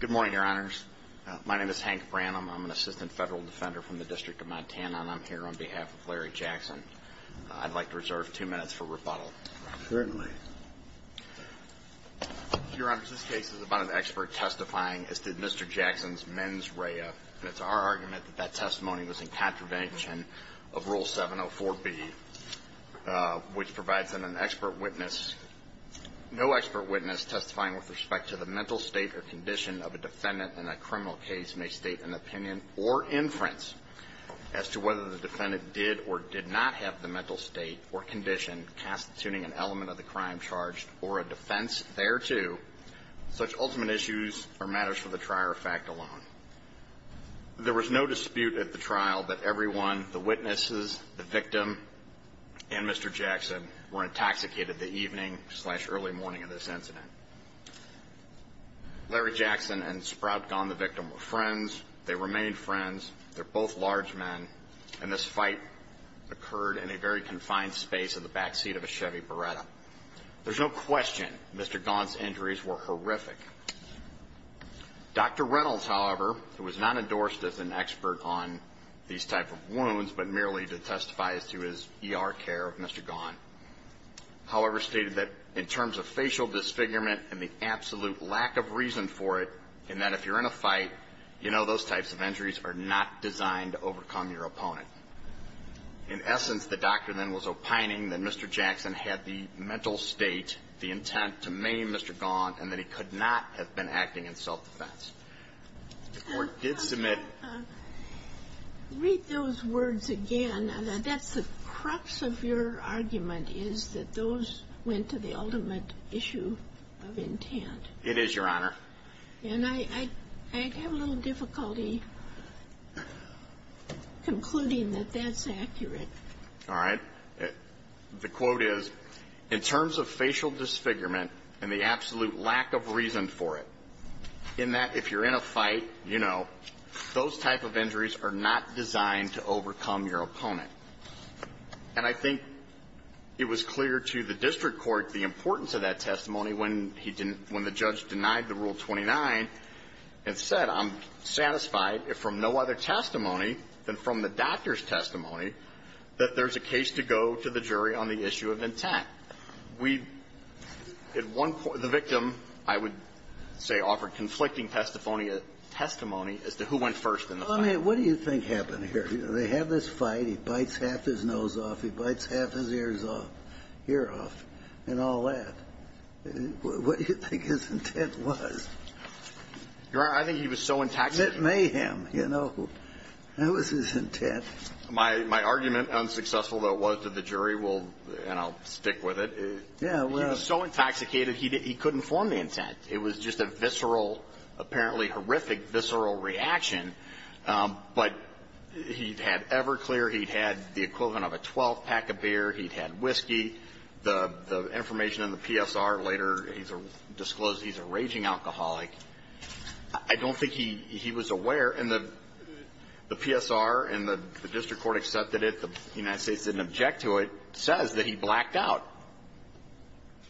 Good morning, Your Honors. My name is Hank Branham. I'm an Assistant Federal Defender from the District of Montana, and I'm here on behalf of Larry Jackson. I'd like to reserve two minutes for rebuttal. Certainly. Your Honors, this case is about an expert testifying as to Mr. Jackson's mens rea, and it's our argument that that testimony was in contravention of Rule 704B, which provides an expert witness. No expert witness testifying with respect to the mental state or condition of a defendant in a criminal case may state an opinion or inference as to whether the defendant did or did not have the mental state or condition constituting an element of the crime charged or a defense thereto. Such ultimate issues are matters for the trier of fact alone. There was no dispute at the trial that everyone, the witnesses, the victim, and Mr. Jackson were intoxicated the evening slash early morning of this incident. Larry Jackson and Sprout Gaughan, the victim, were friends. They remained friends. They're both large men, and this fight occurred in a very confined space in the backseat of a Chevy Beretta. There's no question Mr. Gaughan's injuries were horrific. Dr. Reynolds, however, who was not endorsed as an expert on these type of wounds but merely to testify as to his ER care of Mr. Gaughan, however, stated that in terms of facial disfigurement and the absolute lack of reason for it, and that if you're in a fight, you know those types of injuries are not designed to overcome your opponent. In essence, the doctor then was opining that Mr. Jackson had the mental state, the intent, to maim Mr. Gaughan, and that he could not have been acting in self-defense. The Court did submit ---- Ginsburg. Read those words again. That's the crux of your argument, is that those went to the ultimate issue of intent. Goldenberg. It is, Your Honor. Ginsburg. And I have a little difficulty concluding that that's accurate. All right? The quote is, in terms of facial disfigurement and the absolute lack of reason for it, in that if you're in a fight, you know, those type of injuries are not designed to overcome your opponent. And I think it was clear to the district court the importance of that testimony when he didn't ---- when the judge denied the Rule 29 and said, I'm testimony, then from the doctor's testimony, that there's a case to go to the jury on the issue of intent. We, at one point, the victim, I would say, offered conflicting testimony as to who went first in the fight. Well, I mean, what do you think happened here? You know, they have this fight. He bites half his nose off. He bites half his ears off, and all that. What do you think his intent was? Your Honor, I think he was so intact that ---- That was his intent. My argument, unsuccessful, though, was that the jury will, you know, stick with it. Yeah, well ---- He was so intoxicated, he couldn't form the intent. It was just a visceral, apparently horrific visceral reaction. But he had ever clear, he had the equivalent of a 12-pack of beer, he had whiskey. The information in the PSR later disclosed he's a raging alcoholic. I don't think he was aware, and the PSR and the district court accepted it, the United States didn't object to it, says that he blacked out.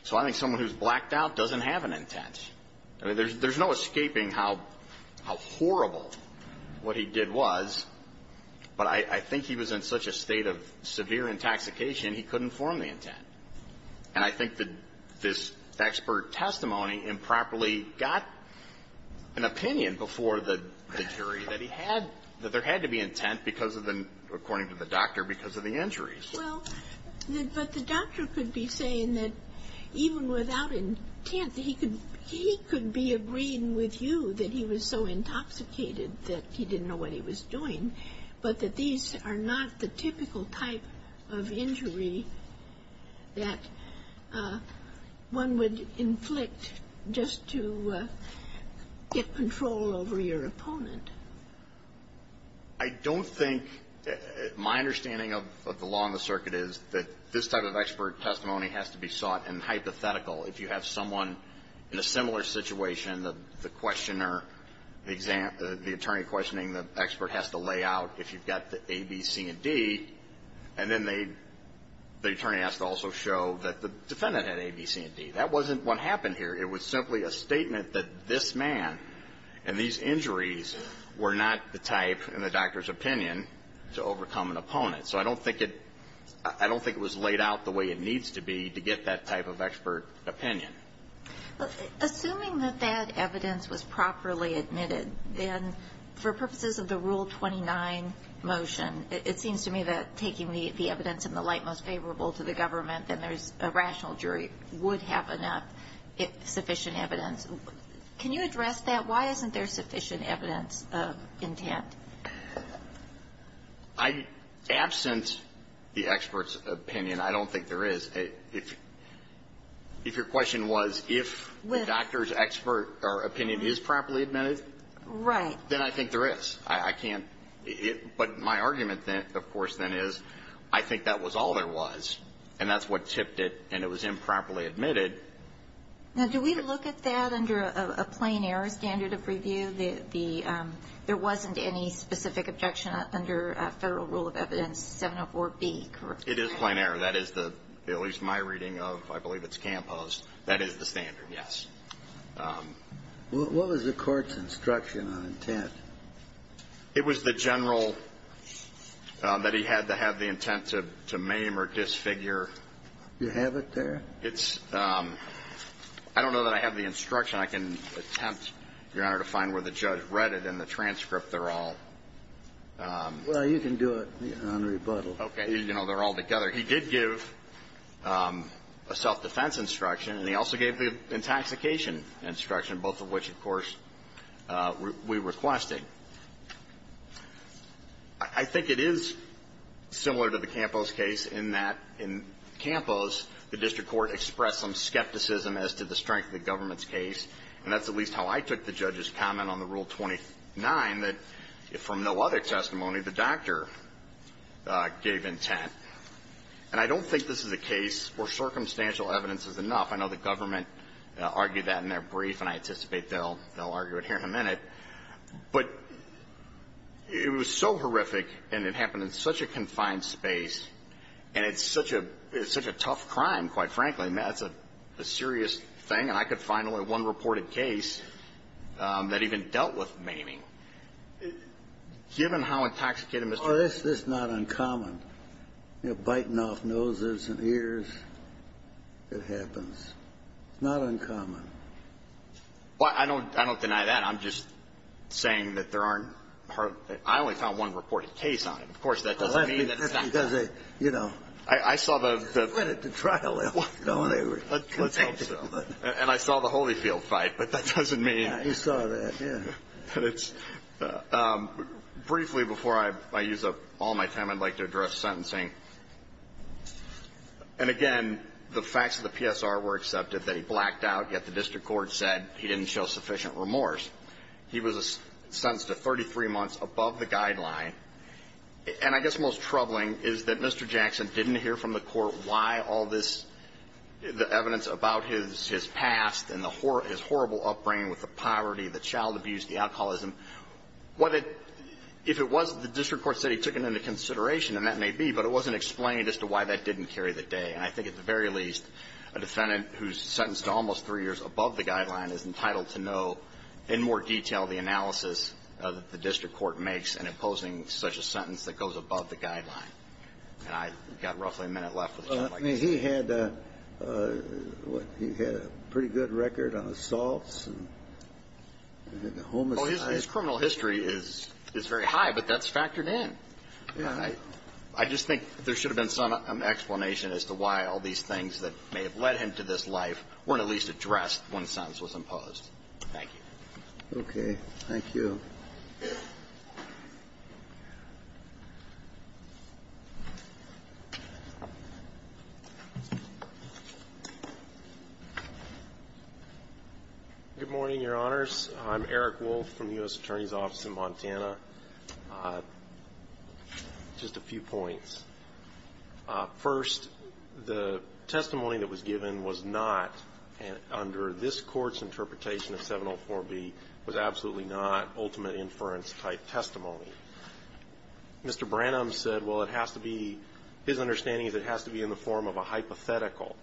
So I think someone who's blacked out doesn't have an intent. I mean, there's no escaping how horrible what he did was, but I think he was in such a state of severe intoxication, he couldn't form the intent. And I think that this expert testimony improperly got an opinion before the jury that he had, that there had to be intent because of the, according to the doctor, because of the injuries. Well, but the doctor could be saying that even without intent, he could be agreeing with you that he was so intoxicated that he didn't know what he was doing, but that these are not the typical type of injury. That one would inflict just to get control over your opponent. I don't think, my understanding of the law in the circuit is that this type of expert testimony has to be sought and hypothetical. If you have someone in a similar situation, the questioner, the attorney questioning the expert has to lay out if you've got the A, B, C, and D. And then the attorney has to also show that the defendant had A, B, C, and D. That wasn't what happened here. It was simply a statement that this man and these injuries were not the type, in the doctor's opinion, to overcome an opponent. So I don't think it was laid out the way it needs to be to get that type of expert opinion. Assuming that that evidence was properly admitted, then for purposes of the Rule 29 motion, it seems to me that taking the evidence in the light most favorable to the government, then there's a rational jury would have enough sufficient evidence. Can you address that? Why isn't there sufficient evidence of intent? I, absent the expert's opinion, I don't think there is. If your question was if the doctor's expert opinion is properly admitted, then I think there is. I can't. But my argument, of course, then is I think that was all there was, and that's what tipped it, and it was improperly admitted. Now, do we look at that under a plain error standard of review? There wasn't any specific objection under Federal Rule of Evidence 704B, correct? It is plain error. That is the, at least my reading of, I believe it's Campos, that is the standard, yes. What was the court's instruction on intent? It was the general that he had to have the intent to maim or disfigure. You have it there? It's – I don't know that I have the instruction. I can attempt, Your Honor, to find where the judge read it in the transcript. They're all – Well, you can do it on rebuttal. Okay. You know, they're all together. He did give a self-defense instruction, and he also gave the intoxication instruction, both of which, of course, we requested. I think it is similar to the Campos case in that in Campos, the district court expressed some skepticism as to the strength of the government's case. And that's at least how I took the judge's comment on the Rule 29, that from no other testimony, the doctor gave intent. And I don't think this is a case where circumstantial evidence is enough. I know the government argued that in their brief, and I anticipate they'll argue it here in a minute. But it was so horrific, and it happened in such a confined space, and it's such a – it's such a tough crime, quite frankly. I mean, that's a serious thing. And I could find only one reported case that even dealt with maiming. Given how intoxicated Mr. — Well, that's just not uncommon, you know, biting off noses and ears, it happens. It's not uncommon. Well, I don't – I don't deny that. I'm just saying that there aren't – I only found one reported case on it. Of course, that doesn't mean that they're not done. You know. I saw the — They went into trial a little while ago, and they were convicted. Let's hope so. And I saw the Holyfield fight, but that doesn't mean — Yeah, you saw that, yeah. But it's – briefly, before I use up all my time, I'd like to address sentencing. And again, the facts of the PSR were accepted, that he blacked out, yet the district court said he didn't show sufficient remorse. He was sentenced to 33 months above the guideline. And I guess most troubling is that Mr. Jackson didn't hear from the court why all this – the evidence about his past and the – his horrible upbringing with the poverty, the child abuse, the alcoholism. What it – if it was that the district court said he took it into consideration, and that may be, but it wasn't explained as to why that didn't carry the day. And I think at the very least, a defendant who's sentenced to almost three years above the guideline is entitled to know in more detail the analysis that the district court makes in imposing such a sentence that goes above the guideline. And I've got roughly a minute left with the gentleman. I mean, he had a – what, he had a pretty good record on assaults and homicides. Well, his criminal history is very high, but that's factored in. I just think there should have been some explanation as to why all these things that may have led him to this life weren't at least addressed when the sentence was imposed. Thank you. Okay. Thank you. Good morning, Your Honors. I'm Eric Wolf from the U.S. Attorney's Office in Montana. Just a few points. First, the testimony that was given was not, under this Court's interpretation of 704B, was absolutely not ultimate inference-type testimony. Mr. Branham said, well, it has to be – his understanding is it has to be in the form of a hypothetical,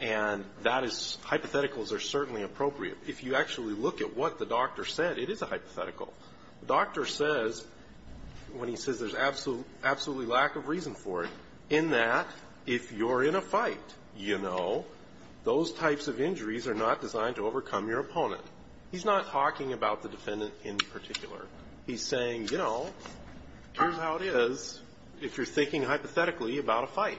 and that is – hypotheticals are certainly appropriate. If you actually look at what the doctor said, it is a hypothetical. The doctor says – when he says there's absolutely lack of reason for it, in that if you're in a fight, you know, those types of injuries are not designed to overcome your opponent. He's not talking about the defendant in particular. He's saying, you know, here's how it is if you're thinking hypothetically about a fight.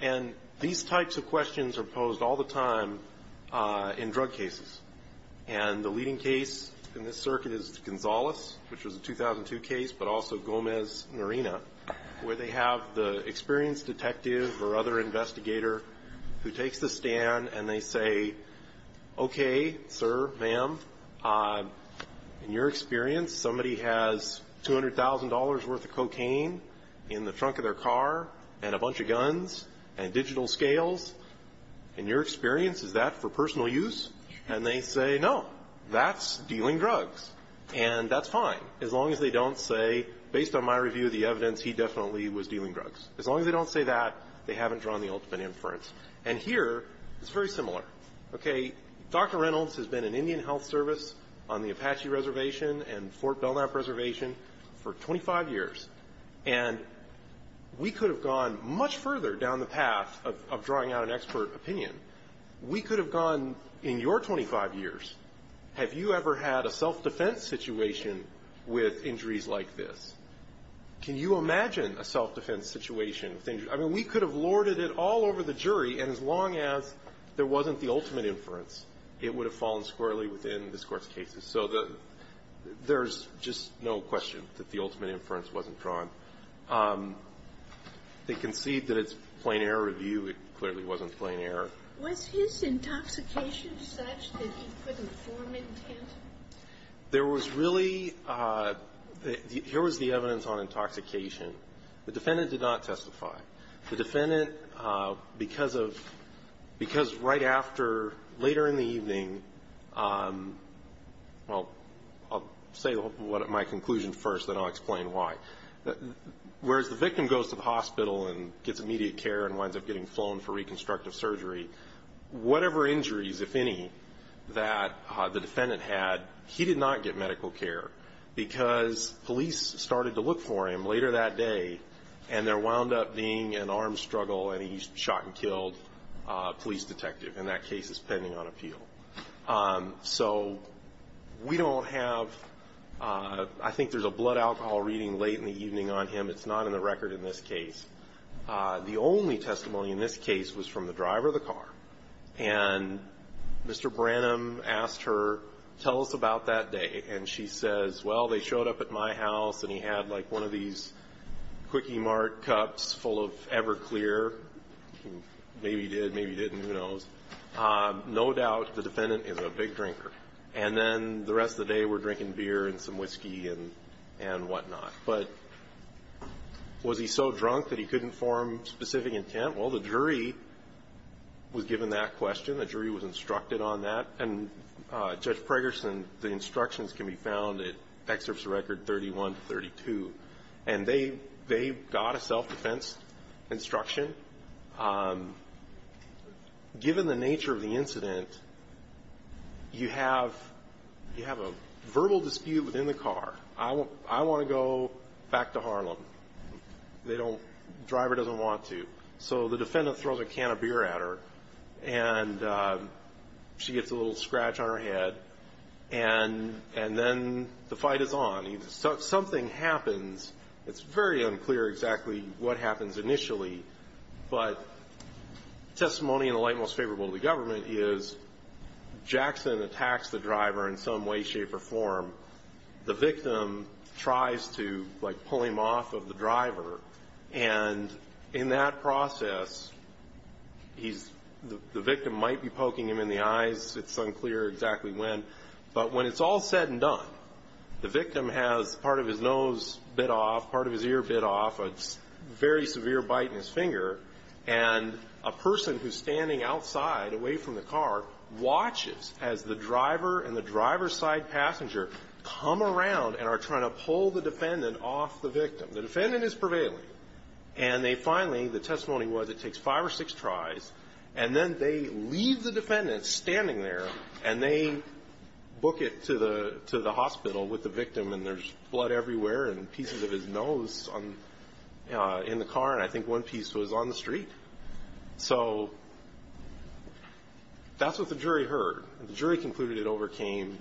And these types of questions are posed all the time in drug cases. And the leading case in this circuit is Gonzales, which was a 2002 case, but also Gomez-Norena, where they have the experienced detective or other investigator who takes the stand and they say, okay, sir, ma'am, in your experience, somebody has $200,000 worth of cocaine in the trunk of their car and a bunch of guns and digital scales. In your experience, is that for personal use? And they say, no, that's dealing drugs. And that's fine as long as they don't say, based on my review of the evidence, he definitely was dealing drugs. As long as they don't say that, they haven't drawn the ultimate inference. And here, it's very similar. Okay. Dr. Reynolds has been in Indian Health Service on the Apache Reservation and Fort Belknap Reservation for 25 years. And we could have gone much further down the path of drawing out an expert opinion. We could have gone, in your 25 years, have you ever had a self-defense situation with injuries like this? Can you imagine a self-defense situation with injuries? I mean, we could have lorded it all over the jury, and as long as there wasn't the ultimate inference, it would have fallen squarely within this Court's cases. So there's just no question that the ultimate inference wasn't drawn. They concede that it's plain error review. It clearly wasn't plain error. Was his intoxication such that he couldn't form an intent? There was really the evidence on intoxication. The defendant did not testify. The defendant, because right after, later in the evening, well, I'll say my conclusion first, then I'll explain why. Whereas the victim goes to the hospital and gets immediate care and winds up getting flown for reconstructive surgery, whatever injuries, if any, that the defendant had, he did not get medical care because police started to look for him later that day, and there wound up being an arm struggle, and he shot and killed a police detective, and that case is pending on appeal. So we don't have – I think there's a blood alcohol reading late in the evening on him. It's not in the record in this case. The only testimony in this case was from the driver of the car, and Mr. Branham asked her, tell us about that day, and she says, well, they showed up at my house and he had, like, one of these Quickie Mart cups full of Everclear. Maybe he did, maybe he didn't, who knows. No doubt the defendant is a big drinker, and then the rest of the day we're drinking beer and some whiskey and whatnot. But was he so drunk that he couldn't form specific intent? Well, the jury was given that question. The jury was instructed on that, and Judge Pregerson, the instructions can be found in excerpts of record 31 to 32, and they got a self-defense instruction. Given the nature of the incident, you have a verbal dispute within the car. I want to go back to Harlem. The driver doesn't want to. So the defendant throws a can of beer at her, and she gets a little scratch on her head, and then the fight is on. Something happens. It's very unclear exactly what happens initially, but testimony in the light most favorable to the government is Jackson attacks the driver in some way, shape, or form. And in that process, the victim might be poking him in the eyes. It's unclear exactly when. But when it's all said and done, the victim has part of his nose bit off, part of his ear bit off, a very severe bite in his finger, and a person who's standing outside away from the car watches as the driver and the driver's side passenger come around and are trying to pull the defendant off the victim. The defendant is prevailing, and they finally, the testimony was it takes five or six tries, and then they leave the defendant standing there, and they book it to the hospital with the victim, and there's blood everywhere and pieces of his nose in the car, and I think one piece was on the street. So that's what the jury heard. The jury concluded it overcame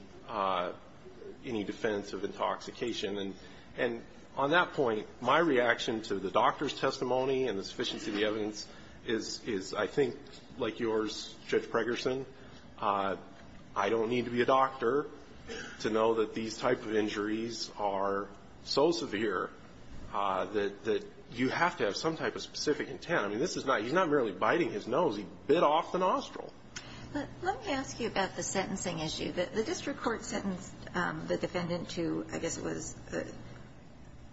any defense of intoxication. And on that point, my reaction to the doctor's testimony and the sufficiency of the evidence is I think like yours, Judge Pregerson, I don't need to be a doctor to know that these type of injuries are so severe that you have to have some type of specific intent. I mean, this is not he's not merely biting his nose. He bit off the nostril. Let me ask you about the sentencing issue. The district court sentenced the defendant to, I guess it was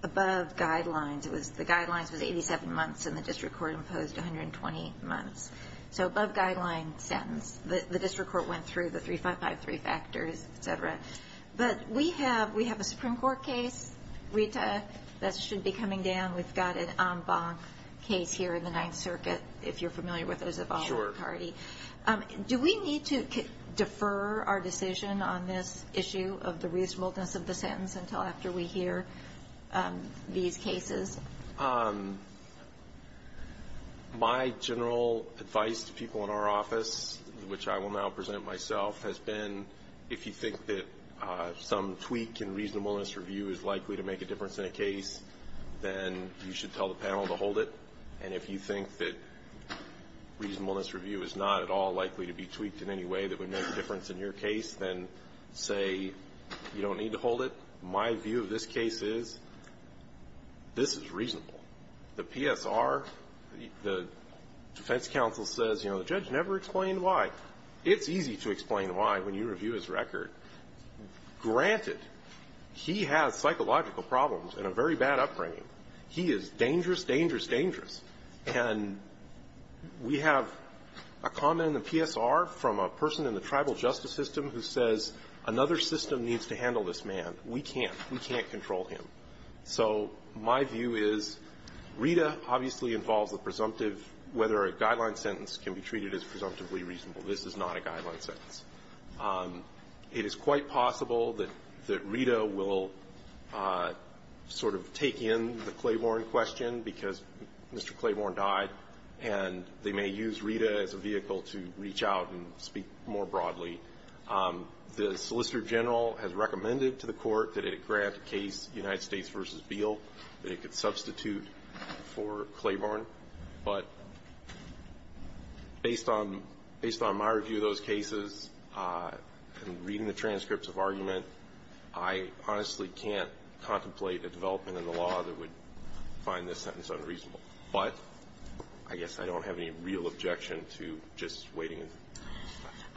above guidelines. The guidelines was 87 months, and the district court imposed 120 months. So above guideline sentence. The district court went through the 553 factors, et cetera. But we have a Supreme Court case, Rita, that should be coming down. We've got an en banc case here in the Ninth Circuit, if you're familiar with it, as a voluntary. Sure. Do we need to defer our decision on this issue of the reasonableness of the sentence until after we hear these cases? My general advice to people in our office, which I will now present myself, has been if you think that some tweak in reasonableness review is likely to make a difference in a case, then you should tell the panel to hold it. And if you think that reasonableness review is not at all likely to be tweaked in any way that would make a difference in your case, then say you don't need to hold it. My view of this case is this is reasonable. The PSR, the defense counsel says, you know, the judge never explained why. It's easy to explain why when you review his record. Granted, he has psychological problems and a very bad upbringing. He is dangerous, dangerous, dangerous. And we have a comment in the PSR from a person in the tribal justice system who says another system needs to handle this man. We can't. We can't control him. So my view is Rita obviously involves the presumptive, whether a guideline sentence can be treated as presumptively reasonable. This is not a guideline sentence. It is quite possible that Rita will sort of take in the Claiborne question because Mr. Claiborne died, and they may use Rita as a vehicle to reach out and speak more broadly. The Solicitor General has recommended to the Court that it grant a case, United States v. Beale, that it could substitute for Claiborne. But based on my review of those cases and reading the transcripts of argument, I honestly can't contemplate a development in the law that would find this sentence unreasonable. But I guess I don't have any real objection to just waiting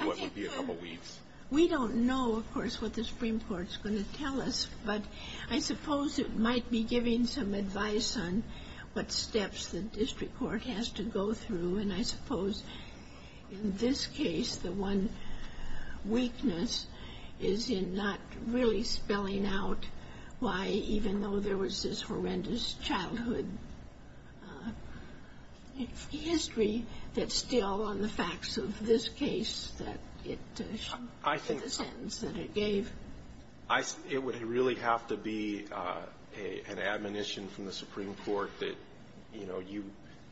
what would be a couple weeks. We don't know, of course, what the Supreme Court is going to tell us, but I suppose it might be giving some advice on what steps the district court has to go through. And I suppose in this case, the one weakness is in not really spelling out why, even though there was this horrendous childhood history, that still on the facts of this case that it should be the sentence that it gave. It would really have to be an admonition from the Supreme Court that, you know, you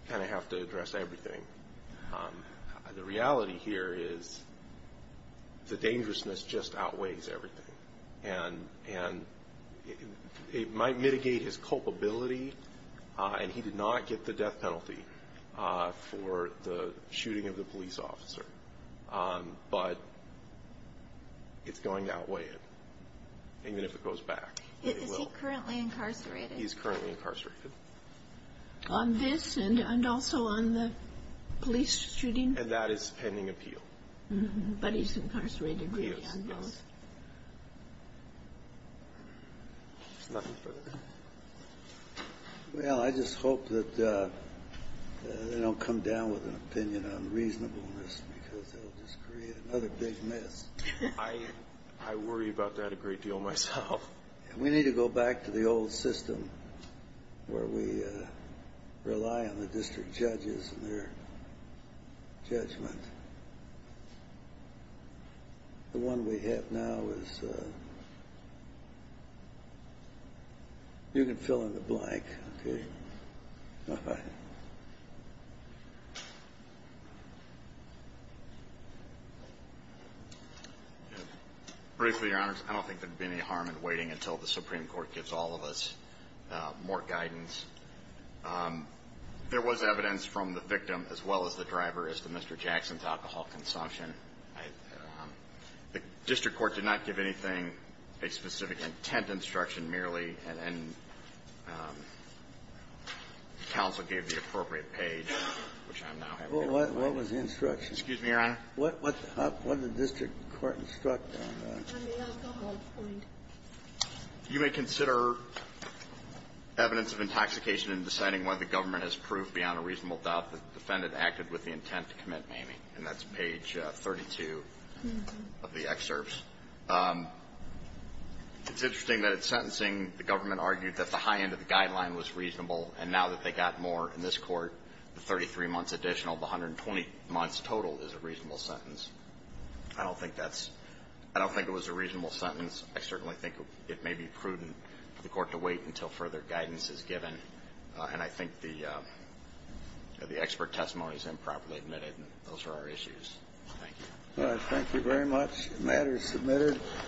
kind of have to address everything. The reality here is the dangerousness just outweighs everything. And it might mitigate his culpability, and he did not get the death penalty for the shooting of the police officer. But it's going to outweigh it, even if it goes back. It will. Is he currently incarcerated? He is currently incarcerated. On this and also on the police shooting? And that is pending appeal. But he's incarcerated? He is, yes. There's nothing further. Well, I just hope that they don't come down with an opinion on reasonableness because they'll just create another big mess. I worry about that a great deal myself. We need to go back to the old system where we rely on the district judges and their judgment. The one we have now is you can fill in the blank, okay? All right. Briefly, Your Honors, I don't think there would be any harm in waiting until the Supreme Court gives all of us more guidance. There was evidence from the victim as well as the driver, as to Mr. Jackson, alcohol consumption. The district court did not give anything, a specific intent instruction, merely. And counsel gave the appropriate page, which I'm now having to find. Well, what was the instruction? Excuse me, Your Honor? What did the district court instruct on that? On the alcohol point. You may consider evidence of intoxication in deciding whether the government has proved beyond a reasonable doubt that the defendant acted with the intent to commit maiming. And that's page 32 of the excerpts. It's interesting that at sentencing, the government argued that the high end of the guideline was reasonable. And now that they got more in this court, the 33 months additional, the 120 months total is a reasonable sentence. I don't think that's – I don't think it was a reasonable sentence. I certainly think it may be prudent for the court to wait until further guidance is given. And I think the expert testimony is improperly admitted. Those are our issues. Thank you. All right. Thank you very much. The matter is submitted.